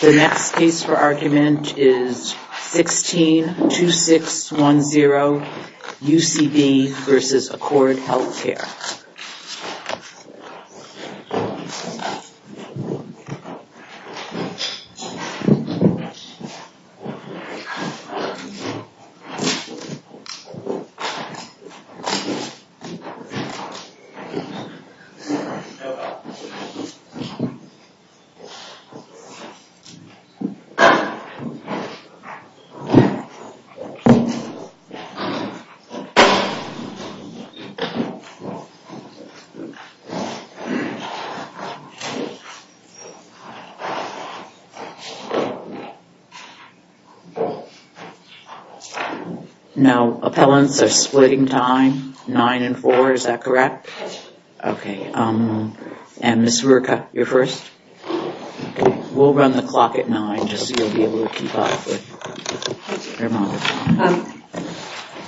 The next case for argument is 162610, UCB v. Accord Healthcare. Now, appellants are splitting time. I'd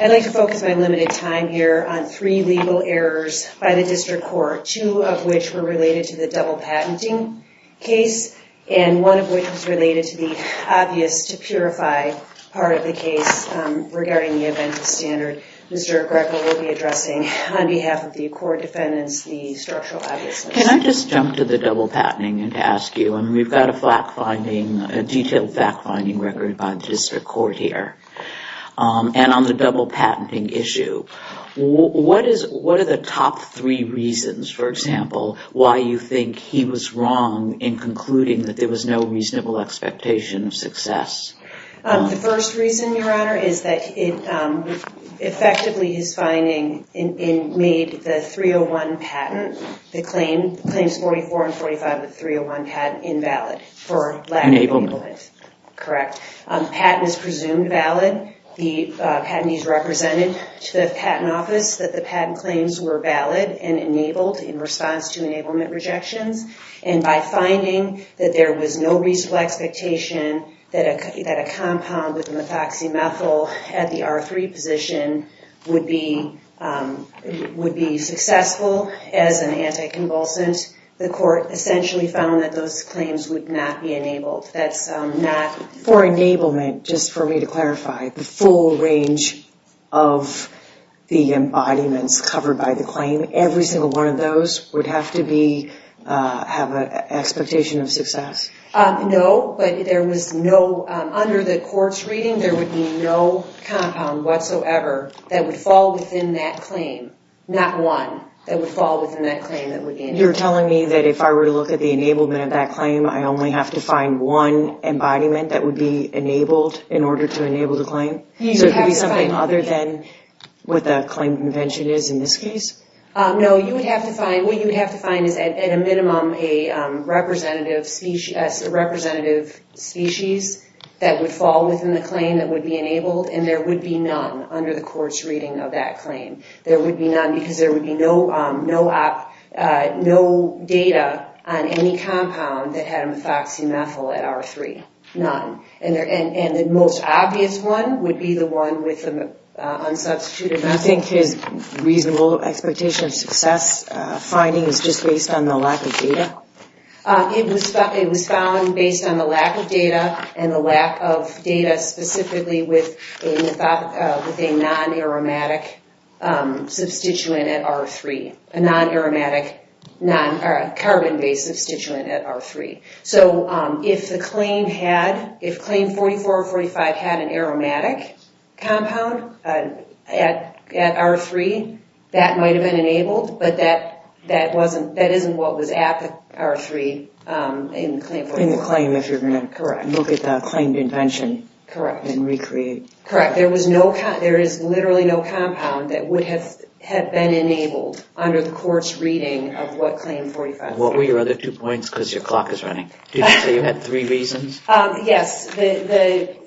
like to focus my limited time here on three legal errors by the District Court, two of which were related to the double patenting case and one of which was related to the obvious case to purify part of the case regarding the event of standard. Mr. Greco will be addressing, on behalf of the Accord defendants, the structural obvious case. Can I just jump to the double patenting and ask you, I mean, we've got a fact-finding, a detailed fact-finding record by the District Court here, and on the double patenting issue, what are the top three reasons, for example, why you think he was wrong in concluding that there was no reasonable expectation of success? The first reason, Your Honor, is that effectively his finding made the 301 patent, the claims 44 and 45 of the 301 patent, invalid for lack of enablement. Enablement. Correct. The patent is presumed valid. The patentees represented to the Patent Office that the patent claims were valid and enabled in response to enablement rejections, and by finding that there was no reasonable expectation that a compound with methoxymethyl at the R3 position would be successful as an anticonvulsant, the court essentially found that those claims would not be enabled. That's not... For enablement, just for me to clarify, the full range of the embodiments covered by the those would have to have an expectation of success? No, but there was no... Under the court's reading, there would be no compound whatsoever that would fall within that claim. Not one that would fall within that claim that would be enabled. You're telling me that if I were to look at the enablement of that claim, I only have to find one embodiment that would be enabled in order to enable the claim? So it could be something other than what the claim convention is in this case? No, you would have to find... What you would have to find is, at a minimum, a representative species that would fall within the claim that would be enabled, and there would be none under the court's reading of that claim. There would be none because there would be no data on any compound that had methoxymethyl at R3. None. And the most obvious one would be the one with the unsubstituted methyl. And I think his reasonable expectation of success finding is just based on the lack of data? It was found based on the lack of data, and the lack of data specifically with a non-aromatic substituent at R3. A non-aromatic, carbon-based substituent at R3. So if the claim had... If claim 44 or 45 had an aromatic compound at R3, that might have been enabled, but that wasn't... That isn't what was at the R3 in claim 44. In the claim if you're going to look at the claimed invention and recreate. Correct. There was no... There is literally no compound that would have been enabled under the court's reading of what claim 45 said. What were your other two points, because your clock is running? Did you say you had three reasons? Yes.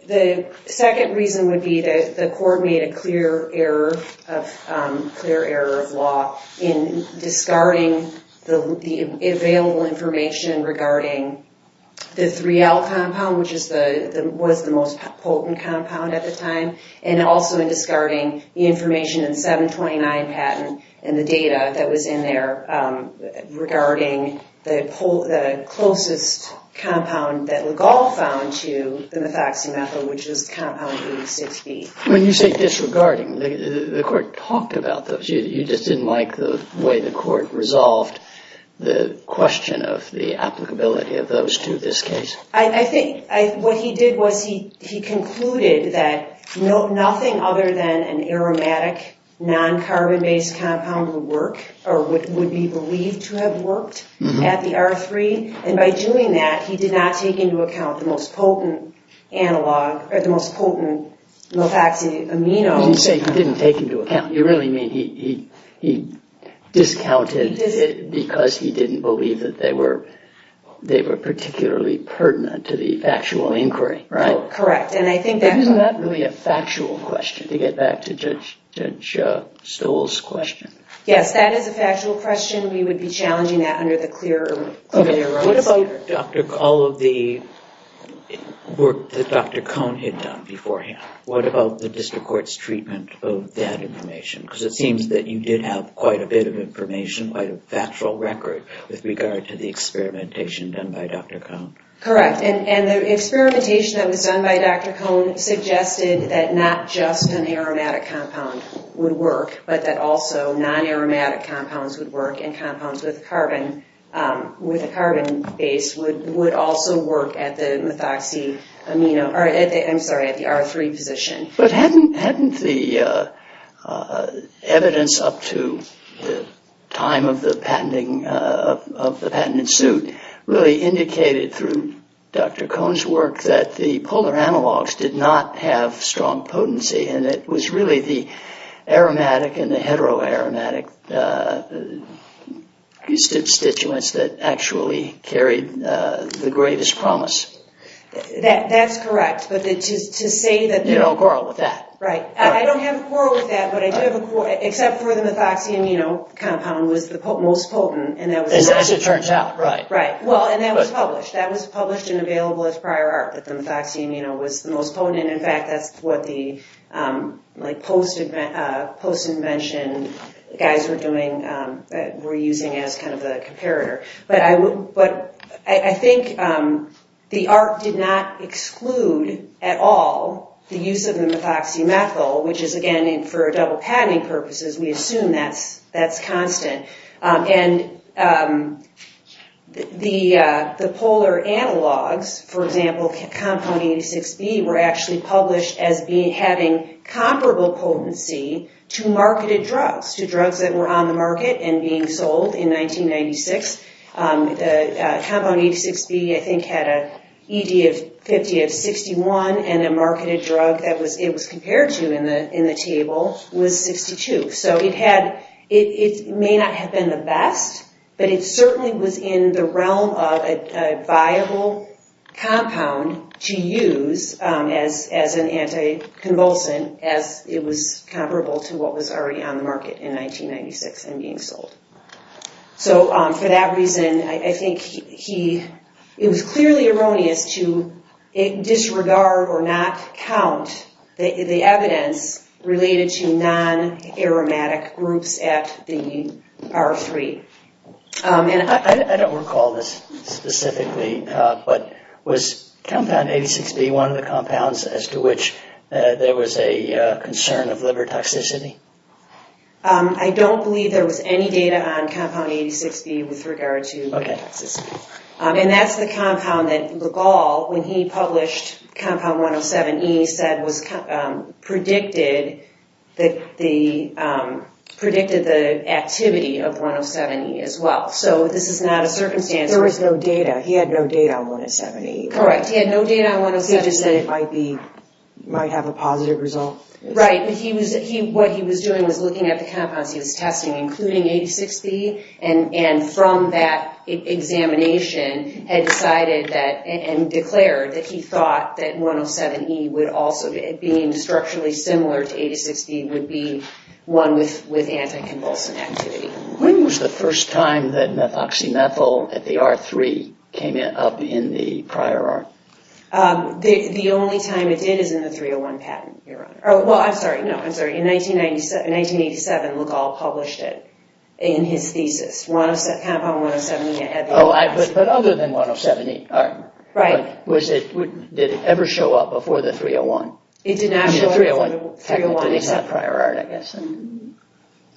The second reason would be that the court made a clear error of law in discarding the available information regarding the 3L compound, which was the most potent compound at the time, and also in discarding the information in 729 patent and the data that was in there regarding the closest compound that Legall found to the methoxy methyl, which is compound 86B. When you say disregarding, the court talked about those. You just didn't like the way the court resolved the question of the applicability of those to this case. I think what he did was he concluded that nothing other than an aromatic, non-carbon-based compound would work or would be believed to have worked at the R3, and by doing that, he did not take into account the most potent analog or the most potent methoxy amino. You didn't say he didn't take into account. You really mean he discounted it because he didn't believe that they were particularly pertinent to the factual inquiry, right? Correct. Isn't that really a factual question, to get back to Judge Stoll's question? Yes, that is a factual question. We would be challenging that under the clearer rules. What about all of the work that Dr. Cohn had done beforehand? What about the district court's treatment of that information? Because it seems that you did have quite a bit of information, quite a factual record, with regard to the experimentation done by Dr. Cohn. Correct. And the experimentation that was done by Dr. Cohn suggested that not just an aromatic compound would work, but that also non-aromatic compounds would work, and compounds with a carbon base would also work at the R3 position. But hadn't the evidence up to the time of the patent suit really indicated through Dr. Cohn's work that the polar analogs did not have strong potency, and it was really the aromatic and the heteroaromatic constituents that actually carried the greatest promise? That's correct, but to say that... You don't quarrel with that. Right. I don't have a quarrel with that, but I do have a quarrel, except for the methoxyamino compound was the most potent, and that was... As it turns out. Right. Well, and that was published. That was published and available as prior art, that the methoxyamino was the most potent. In fact, that's what the post-invention guys were using as kind of the comparator. But I think the art did not exclude at all the use of the methoxymethyl, which is, again, for double patenting purposes, we assume that's constant. And the polar analogs, for example, compound 86B were actually published as having comparable potency to marketed drugs, to drugs that were on the market and being sold in 1996. The compound 86B, I think, had an ED of 50 of 61, and a marketed drug that it was compared to in the table was 62. So it had... It may not have been the best, but it certainly was in the realm of a viable compound to use as an anticonvulsant as it was comparable to what was already on the market in 1996 and being sold. So for that reason, I think he... It's clearly erroneous to disregard or not count the evidence related to non-aromatic groups at the R3. I don't recall this specifically, but was compound 86B one of the compounds as to which there was a concern of liver toxicity? I don't believe there was any data on compound 86B with regard to liver toxicity. And that's the compound that Legall, when he published compound 107E, predicted the activity of 107E as well. So this is not a circumstance... There was no data. He had no data on 107E. Correct. He had no data on 107E. He just said it might have a positive result. Right. What he was doing was looking at the compounds he was testing, including 86B, and from that examination, had decided that and declared that he thought that 107E would also, being structurally similar to 86B, would be one with anticonvulsant activity. When was the first time that methoxymethyl at the R3 came up in the prior R? The only time it did is in the 301 patent, Your Honor. Well, I'm sorry. No, I'm sorry. In 1987, Legall published it in his thesis. But other than 107E, did it ever show up before the 301? It did not show up before the 301. Technically, it's not prior R, I guess.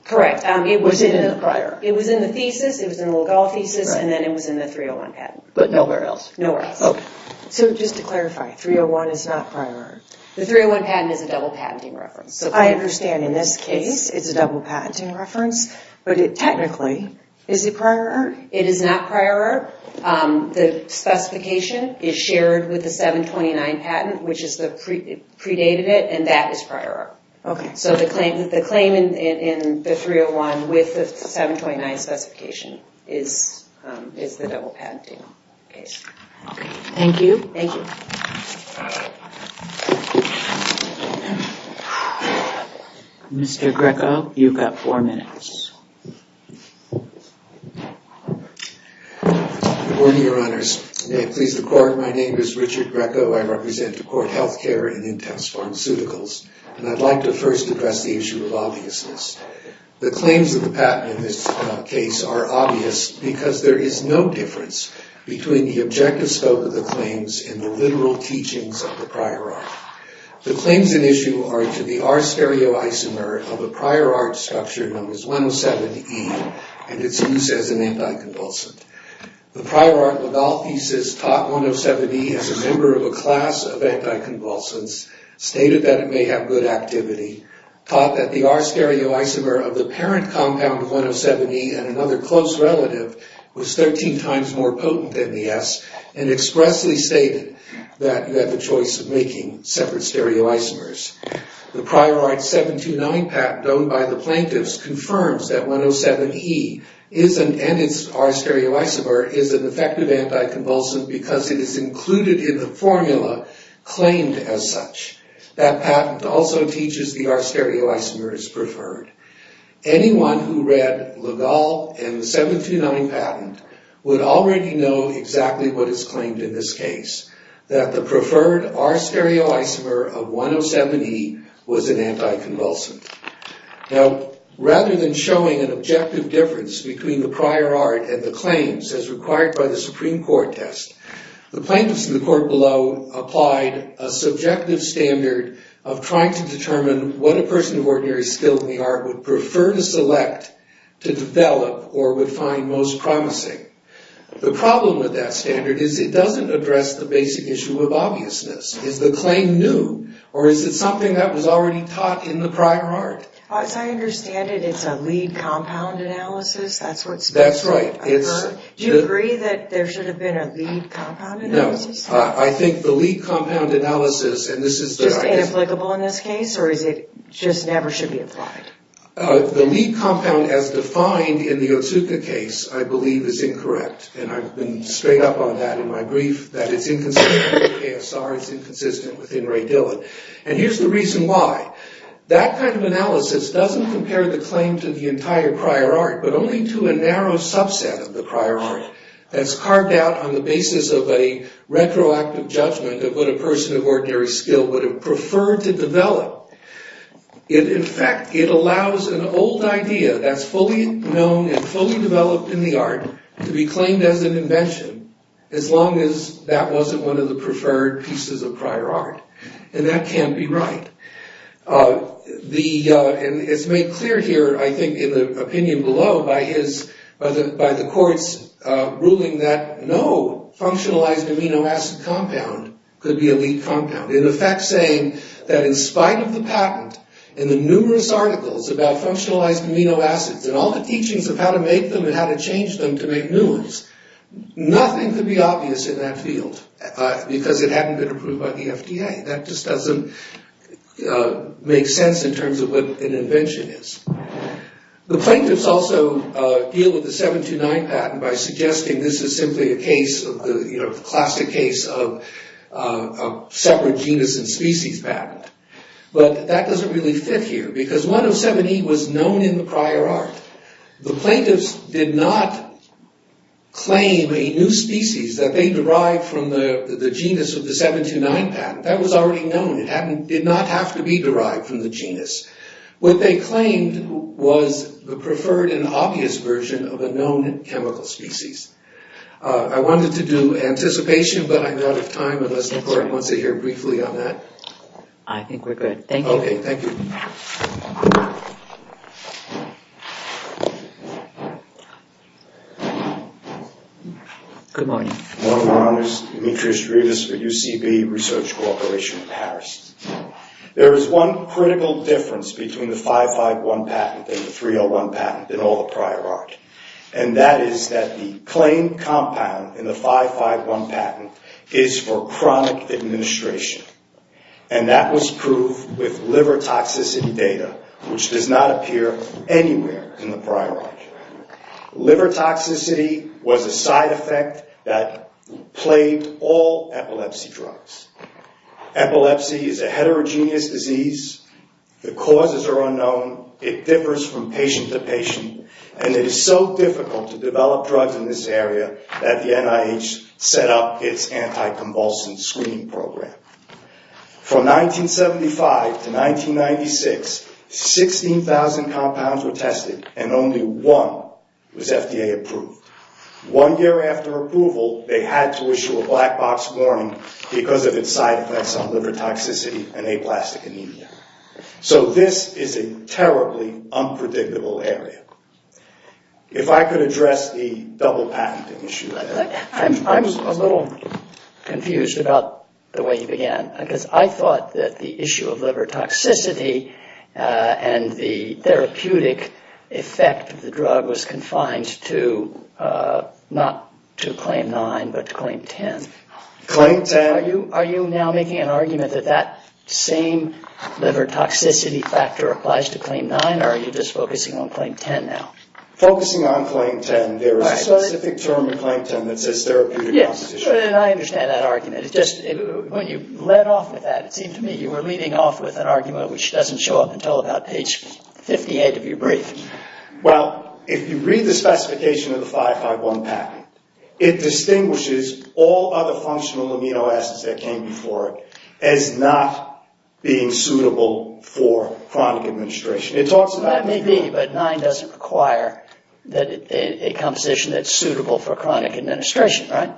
Correct. It was in the thesis, it was in the Legall thesis, and then it was in the 301 patent. But nowhere else? Nowhere else. So just to clarify, 301 is not prior R? The 301 patent is a double patenting reference. I understand in this case, it's a double patenting reference. But technically, is it prior R? It is not prior R. The specification is shared with the 729 patent, which predated it, and that is prior R. So the claim in the 301 with the 729 specification is the double patenting case. Thank you. Thank you. Mr. Greco, you've got four minutes. Good morning, Your Honors. May it please the Court, my name is Richard Greco. I represent the Court Health Care and Intense Pharmaceuticals. And I'd like to first address the issue of obviousness. The claims of the patent in this case are obvious because there is no difference between the objective scope of the claims and the literal teachings of the prior R. The claims in issue are to the R stereoisomer of a prior R structure known as 107E and its use as an anticonvulsant. The prior R of all pieces taught 107E as a member of a class of anticonvulsants, stated that it may have good activity, taught that the R stereoisomer of the parent compound of 107E and another close relative was 13 times more potent than the S, and expressly stated that you had the choice of making separate stereoisomers. The prior R.729 patent done by the plaintiffs confirms that 107E and its R stereoisomer is an effective anticonvulsant because it is included in the formula claimed as such. That patent also teaches the R stereoisomers preferred. Anyone who read LaGalle and the 729 patent would already know exactly what is claimed in this case, that the preferred R stereoisomer of 107E was an anticonvulsant. Now, rather than showing an objective difference between the prior R and the claims as required by the Supreme Court test, the plaintiffs in the court below applied a subjective standard of trying to determine what a person of ordinary skill in the art would prefer to select to develop or would find most promising. The problem with that standard is it doesn't address the basic issue of obviousness. Is the claim new, or is it something that was already taught in the prior art? As I understand it, it's a lead compound analysis, that's what's been said. That's right. Do you agree that there should have been a lead compound analysis? No, I think the lead compound analysis, and this is... Just inapplicable in this case, or is it just never should be applied? The lead compound as defined in the Otsuka case, I believe, is incorrect. And I've been straight up on that in my brief, that it's inconsistent with KSR, it's inconsistent with Ray Dillon. And here's the reason why. That kind of analysis doesn't compare the claim to the entire prior art, but only to a narrow subset of the prior art. That's carved out on the basis of a retroactive judgment of what a person of ordinary skill would have preferred to develop. In fact, it allows an old idea that's fully known and fully developed in the art to be claimed as an invention, as long as that wasn't one of the preferred pieces of prior art. And that can't be right. And it's made clear here, I think, in the opinion below, by the court's ruling that no functionalized amino acid compound could be a lead compound. In effect, saying that in spite of the patent and the numerous articles about functionalized amino acids and all the teachings of how to make them and how to change them to make new ones, nothing could be obvious in that field because it hadn't been approved by the FDA. That just doesn't make sense in terms of what an invention is. The plaintiffs also deal with the 729 patent by suggesting this is simply a classic case of separate genus and species patent. But that doesn't really fit here because 107E was known in the prior art. The plaintiffs did not claim a new species that they derived from the genus of the 729 patent. That was already known. It did not have to be derived from the genus. What they claimed was the preferred and obvious version of a known chemical species. I wanted to do anticipation, but I'm out of time unless the court wants to hear briefly on that. I think we're good. Thank you. Okay, thank you. Good morning. Good morning, Your Honors. Demetrius Rivas for UCB Research Corporation in Paris. There is one critical difference between the 551 patent and the 301 patent in all the prior art, and that is that the claimed compound in the 551 patent is for chronic administration, and that was proved with liver toxicity data, which does not appear anywhere in the prior art. Liver toxicity was a side effect that plagued all epilepsy drugs. Epilepsy is a heterogeneous disease. The causes are unknown. It differs from patient to patient, and it is so difficult to develop drugs in this area that the NIH set up its anti-convulsant screening program. From 1975 to 1996, 16,000 compounds were tested, and only one was FDA approved. One year after approval, they had to issue a black box warning because of its side effects on liver toxicity and aplastic anemia. So this is a terribly unpredictable area. If I could address the double patent issue. I'm a little confused about the way you began, because I thought that the issue of liver toxicity and the therapeutic effect of the drug was confined to, not to Claim 9, but to Claim 10. Are you now making an argument that that same liver toxicity factor applies to Claim 9, or are you just focusing on Claim 10 now? Focusing on Claim 10, there is a specific term in Claim 10 that says therapeutic composition. Yes, and I understand that argument. It's just when you led off with that, it seemed to me you were leading off with an argument which doesn't show up until about page 58 of your brief. Well, if you read the specification of the 551 patent, it distinguishes all other functional amino acids that came before it as not being suitable for chronic administration. That may be, but 9 doesn't require a composition that's suitable for chronic administration, right?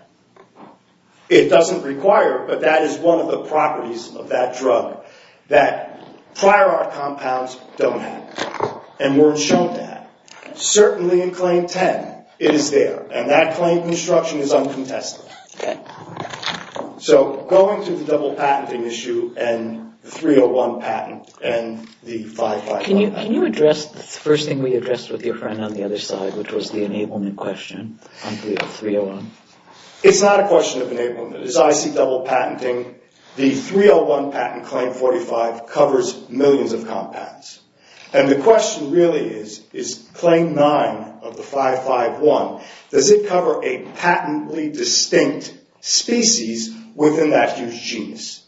It doesn't require, but that is one of the properties of that drug, that prior art compounds don't have, and we're shown that. Certainly in Claim 10, it is there, and that claim construction is uncontested. Okay. So going through the double patenting issue and the 301 patent and the 551... Can you address the first thing we addressed with your friend on the other side, which was the enablement question on 301? It's not a question of enablement. It's IC double patenting. The 301 patent, Claim 45, covers millions of compounds. And the question really is, is Claim 9 of the 551, does it cover a patently distinct species within that huge genus?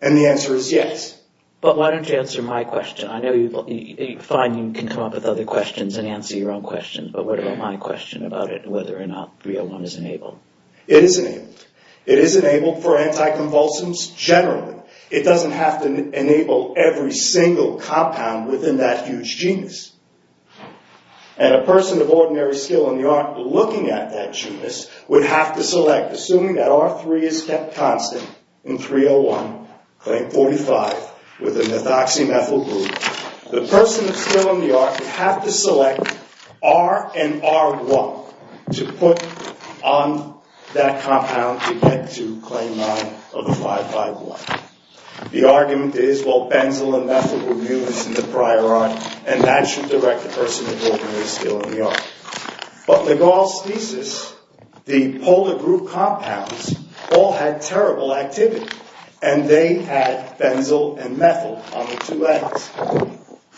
And the answer is yes. But why don't you answer my question? I know you find you can come up with other questions and answer your own questions, but what about my question about it, whether or not 301 is enabled? It is enabled. It is enabled for anticonvulsants generally. It doesn't have to enable every single compound within that huge genus. And a person of ordinary skill in the art looking at that genus would have to select, assuming that R3 is kept constant in 301, Claim 45, within the methoxymethyl group, the person that's still in the art would have to select R and R1 to put on that compound to get to Claim 9 of the 551. The argument is, well, benzyl and methyl were used in the prior art, and that should direct the person of ordinary skill in the art. But McGaugh's thesis, the polar group compounds all had terrible activity, and they had benzyl and methyl on the two ends,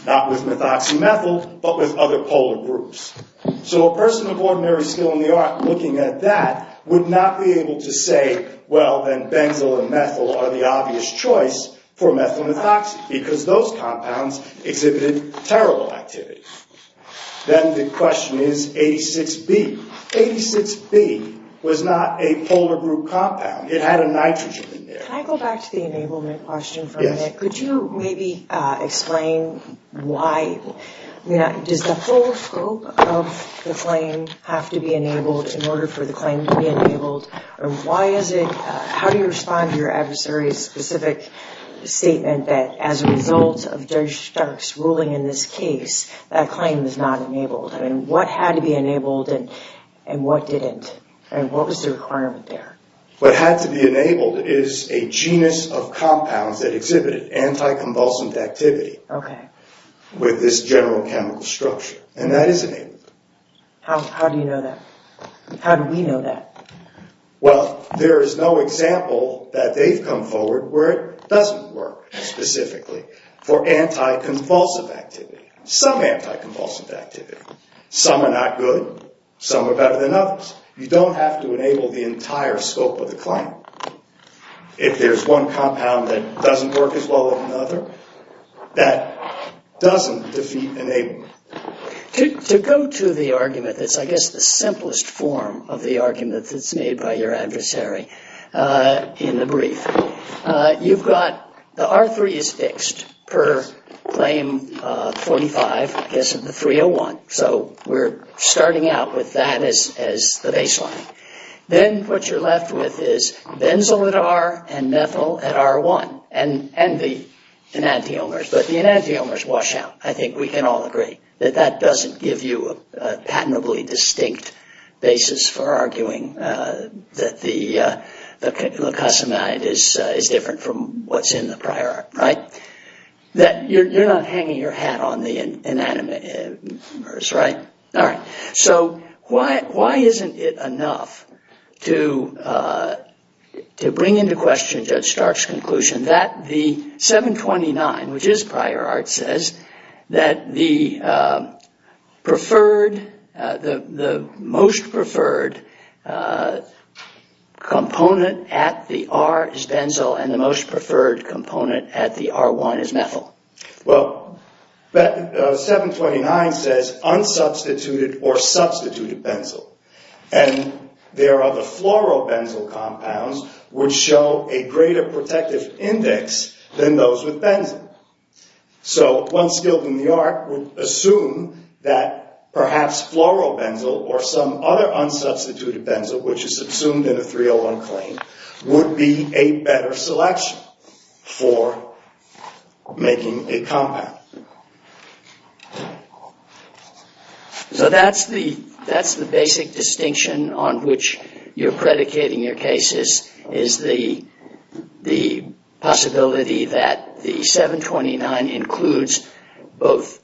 not with methoxymethyl, but with other polar groups. So a person of ordinary skill in the art looking at that would not be able to say, well, then benzyl and methyl are the obvious choice for methyl methoxy because those compounds exhibited terrible activity. Then the question is 86B. 86B was not a polar group compound. It had a nitrogen in there. Can I go back to the enablement question for a minute? Yes. Could you maybe explain why? Does the full scope of the claim have to be enabled in order for the claim to be enabled, or why is it? How do you respond to your adversary's specific statement that as a result of that claim is not enabled? What had to be enabled and what didn't? What was the requirement there? What had to be enabled is a genus of compounds that exhibited anti-convulsant activity with this general chemical structure, and that is enabled. How do you know that? How do we know that? Well, there is no example that they've come forward where it doesn't work specifically for anti-convulsive activity. Some anti-convulsive activity. Some are not good. Some are better than others. You don't have to enable the entire scope of the claim. If there's one compound that doesn't work as well as another, that doesn't defeat enablement. To go to the argument that's I guess the simplest form of the argument that's made by your adversary in the brief, you've got the R3 is fixed per claim 45, I guess of the 301, so we're starting out with that as the baseline. Then what you're left with is benzyl at R and methyl at R1 and the enantiomers, but the enantiomers wash out. I think we can all agree that that doesn't give you a patently distinct basis for arguing that the glucosamide is different from what's in the prior R, right? You're not hanging your hat on the enantiomers, right? All right. So why isn't it enough to bring into question Judge Stark's conclusion that the 729, which is prior R, says that the most preferred component at the R is benzyl and the most preferred component at the R1 is methyl? Well, 729 says unsubstituted or substituted benzyl, and there are the fluorobenzyl compounds which show a greater protective index than those with benzyl. So one skilled in the art would assume that perhaps fluorobenzyl or some other unsubstituted benzyl, which is subsumed in a 301 claim, would be a better selection for making a compound. So that's the basic distinction on which you're predicating your cases, is the possibility that the 729 includes both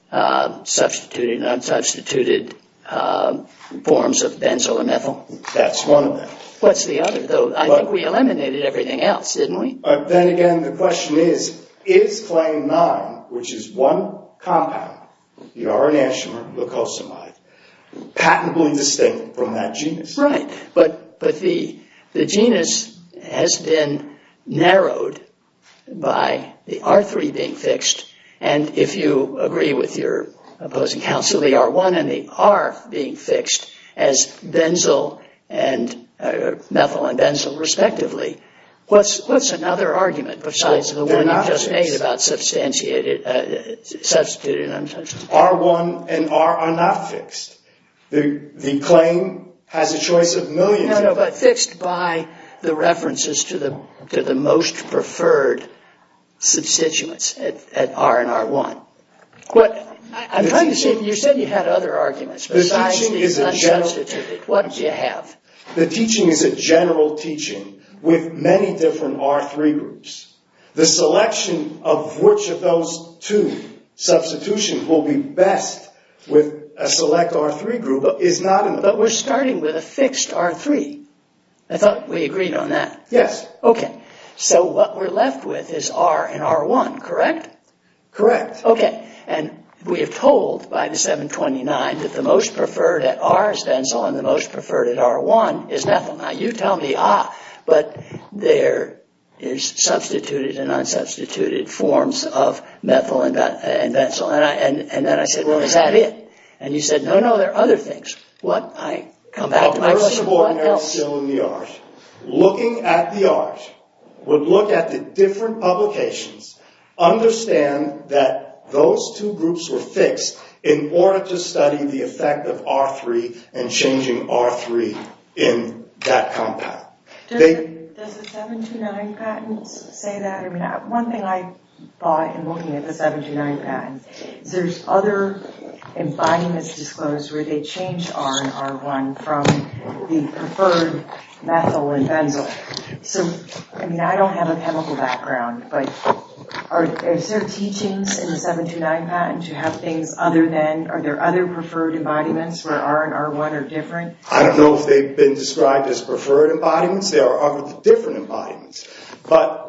substituted and unsubstituted forms of benzyl and methyl. That's one of them. What's the other, though? I think we eliminated everything else, didn't we? Then again, the question is, is claim 9, which is one compound, the r-enantiomer glucosamide, patently distinct from that genus? Right. But the genus has been narrowed by the R3 being fixed, and if you agree with your opposing counsel, the R1 and the R being fixed as methyl and benzyl respectively. What's another argument besides the one you just made about substituted and unsubstituted? R1 and R are not fixed. The claim has a choice of millions. No, no, but fixed by the references to the most preferred substituents at R and R1. You said you had other arguments besides the unsubstituted. What do you have? The teaching is a general teaching with many different R3 groups. The selection of which of those two substitutions will be best with a select R3 group is not enough. But we're starting with a fixed R3. I thought we agreed on that. Yes. Okay. So what we're left with is R and R1, correct? Correct. Okay. And we are told by the 729 that the most preferred at R is benzyl and the most preferred at R1 is methyl. Now you tell me, ah, but there is substituted and unsubstituted forms of methyl and benzyl. And then I said, well, is that it? And you said, no, no, there are other things. What? I come back to my question, what else? Looking at the R's, would look at the different publications, understand that those two groups were fixed in order to study the effect of R3 and changing R3 in that compound. Does the 729 patents say that? I mean, one thing I thought in looking at the 729 patents, there's other embodiments disclosed where they change R and R1 from the preferred methyl and benzyl. So, I mean, I don't have a chemical background, but is there teachings in the 729 patent to have things other than, are there other preferred embodiments where R and R1 are different? I don't know if they've been described as preferred embodiments. There are other different embodiments. But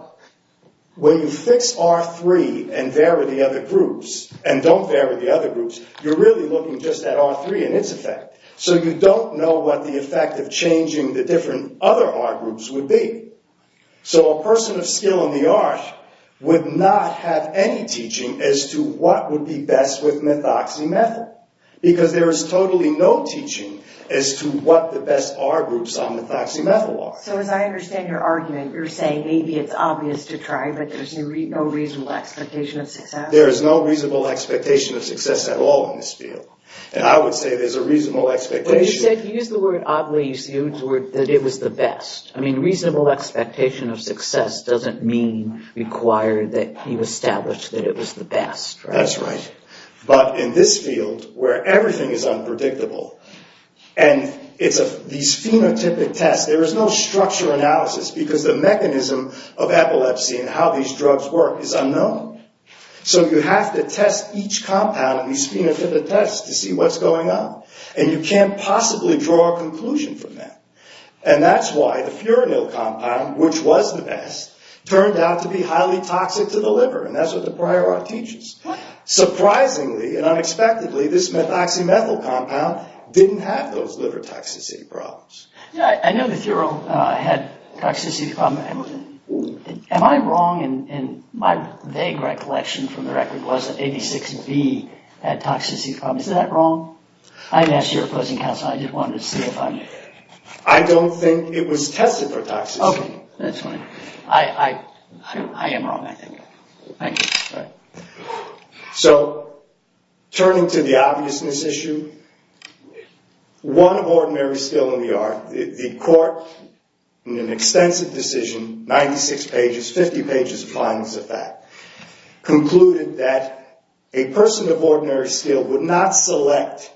when you fix R3 and vary the other groups and don't vary the other groups, you're really looking just at R3 and its effect. So you don't know what the effect of changing the different other R groups would be. So a person of skill in the art would not have any teaching as to what would be best with methoxymethyl. Because there is totally no teaching as to what the best R groups on methoxymethyl are. So as I understand your argument, you're saying maybe it's obvious to try, but there's no reasonable expectation of success? There is no reasonable expectation of success at all in this field. And I would say there's a reasonable expectation. But you said, you used the word oddly, you used the word that it was the best. I mean, reasonable expectation of success doesn't mean required that you establish that it was the best, right? That's right. But in this field, where everything is unpredictable, and it's these phenotypic tests, there is no structure analysis, because the mechanism of epilepsy and how these drugs work is unknown. So you have to test each compound in these phenotypic tests to see what's going on. And you can't possibly draw a conclusion from that. And that's why the furanil compound, which was the best, turned out to be highly toxic to the liver. And that's what the prior art teaches. Surprisingly and unexpectedly, this methoxymethyl compound didn't have those liver toxicity problems. Yeah, I know the furanil had toxicity problems. Am I wrong? And my vague recollection from the record was that AB6B had toxicity problems. Is that wrong? I didn't ask your opposing counsel. I just wanted to see if I'm... I don't think it was tested for toxicity. Okay. That's fine. I am wrong, I think. Thank you. All right. So turning to the obviousness issue, one ordinary skill in the art, the court in an extensive decision, 96 pages, 50 pages of finals of fact, concluded that a person of ordinary skill would not select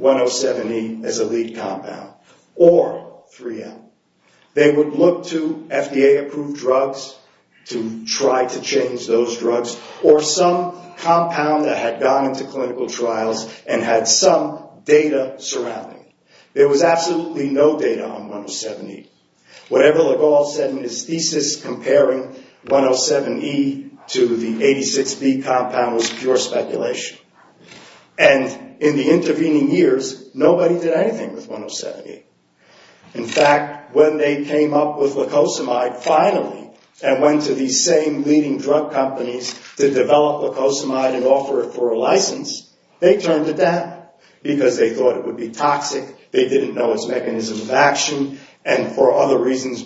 107E as a lead compound or 3M. They would look to FDA-approved drugs to try to change those drugs or some compound that had gone into clinical trials and had some data surrounding it. There was absolutely no data on 107E. Whatever Legault said in his thesis comparing 107E to the 86B compound was pure speculation. And in the intervening years, nobody did anything with 107E. In fact, when they came up with leucosamide finally and went to these same leading drug companies to develop leucosamide and offer it for a license, they turned to death because they thought it would be toxic, they didn't know its mechanism of action, and for other reasons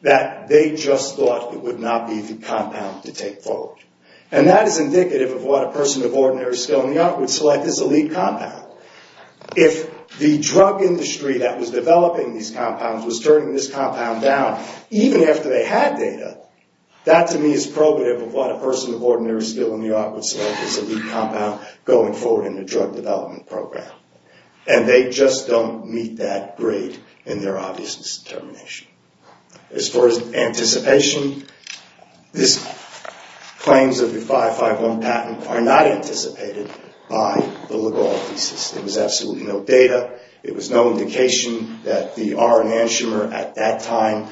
that they just thought it would not be the compound to take forward. And that is indicative of what a person of ordinary skill in the art would select as a lead compound. If the drug industry that was developing these compounds was turning this compound down, even after they had data, that to me is probative of what a person of ordinary skill in the art would select as a lead compound going forward in the drug development program. And they just don't meet that grade in their obvious determination. As far as anticipation, these claims of the 551 patent are not anticipated by the Legault thesis. There was absolutely no data. It was no indication that the R enantiomer at that time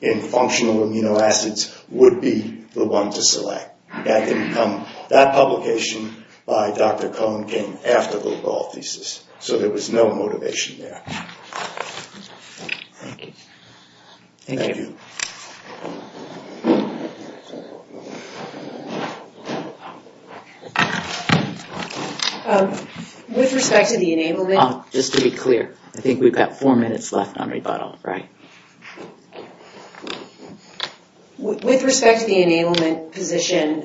in functional amino acids would be the one to select. That publication by Dr. Cohn came after the Legault thesis. So there was no motivation there. Thank you. Thank you. With respect to the enablement, just to be clear, I think we've got four minutes left on rebuttal, right? With respect to the enablement position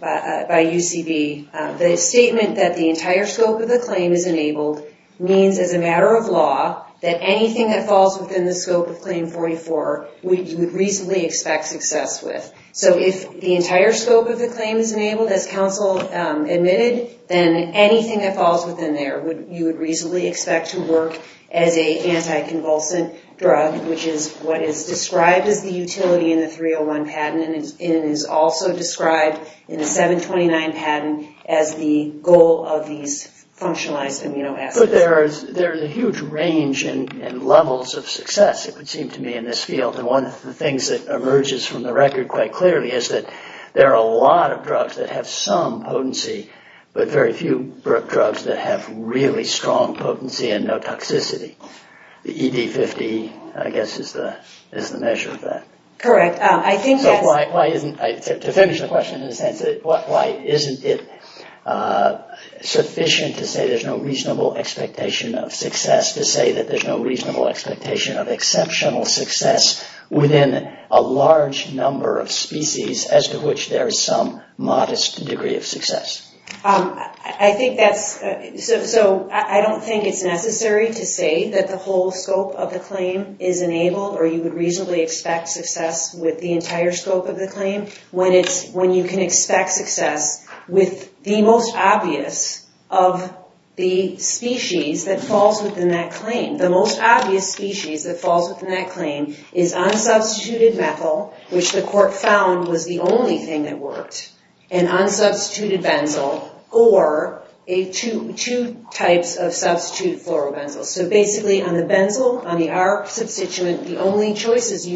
by UCB, the statement that the entire scope of the claim is enabled means, as a matter of law, that anything that falls within the scope of Claim 44 we would reasonably expect success with. So if the entire scope of the claim is enabled, as counsel admitted, then anything that falls within there you would reasonably expect to work as a anti-convulsant drug, which is what is described as the utility in the 301 patent and is also described in the 729 patent as the goal of these functionalized amino acids. But there is a huge range and levels of success, it would seem to me, in this field. And one of the things that emerges from the record quite clearly is that there are a lot of drugs that have some potency, but very few drugs that have really strong potency and no toxicity. The ED50, I guess, is the measure of that. Correct. I think that's... To finish the question in a sense, why isn't it sufficient to say there's no reasonable expectation of success to say that there's no reasonable expectation of exceptional success within a large number of species as to which there is some modest degree of success? I think that's... So, I don't think it's necessary to say that the whole scope of the claim is enabled or you would reasonably expect success with the entire scope of the claim when you can expect success with the most obvious of the species that falls within that claim. The most obvious species that falls within that claim is unsubstituted methyl, which the court found was the only thing that worked, and unsubstituted benzyl or two types of substituted fluorobenzyl. So, basically, on the benzyl, on the R-substituent, the only choices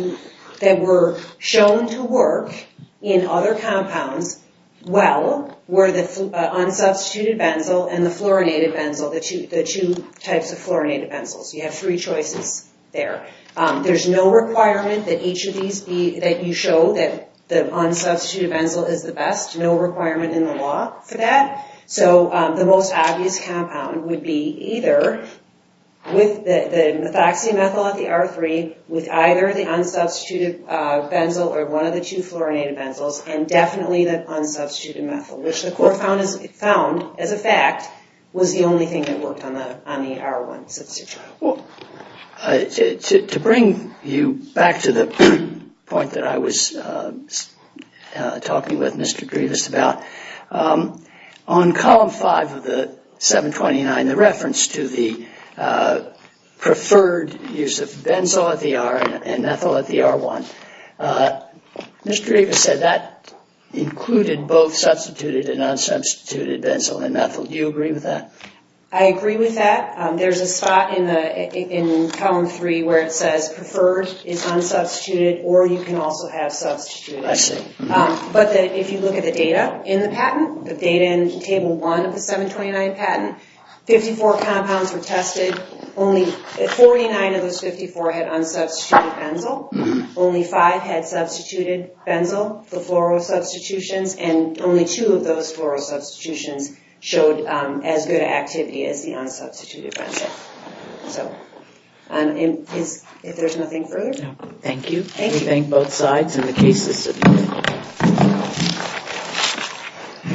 that were shown to work in other compounds well were the unsubstituted benzyl and the fluorinated benzyl, the two types of fluorinated benzyl. So, you have three choices there. There's no requirement that each of these be... There's no requirement in the law for that. So, the most obvious compound would be either with the methoxymethyl at the R3 with either the unsubstituted benzyl or one of the two fluorinated benzyls and definitely the unsubstituted methyl, which the court found as a fact was the only thing that worked on the R1 substitute. To bring you back to the point that I was talking with Mr. Grievous about, on column 5 of the 729, the reference to the preferred use of benzyl at the R and methyl at the R1, Mr. Grievous said that included both substituted and unsubstituted benzyl and methyl. Do you agree with that? I agree with that. There's a spot in column 3 where it says preferred is unsubstituted or you can also have substituted. I see. But if you look at the data in the patent, the data in table 1 of the 729 patent, 54 compounds were tested. Only 49 of those 54 had unsubstituted benzyl. Only 5 had substituted benzyl, the fluoro substitutions, and only 2 of those fluoro substitutions showed as good activity as the unsubstituted benzyl. If there's nothing further? No. Thank you. We thank both sides and the case is submitted.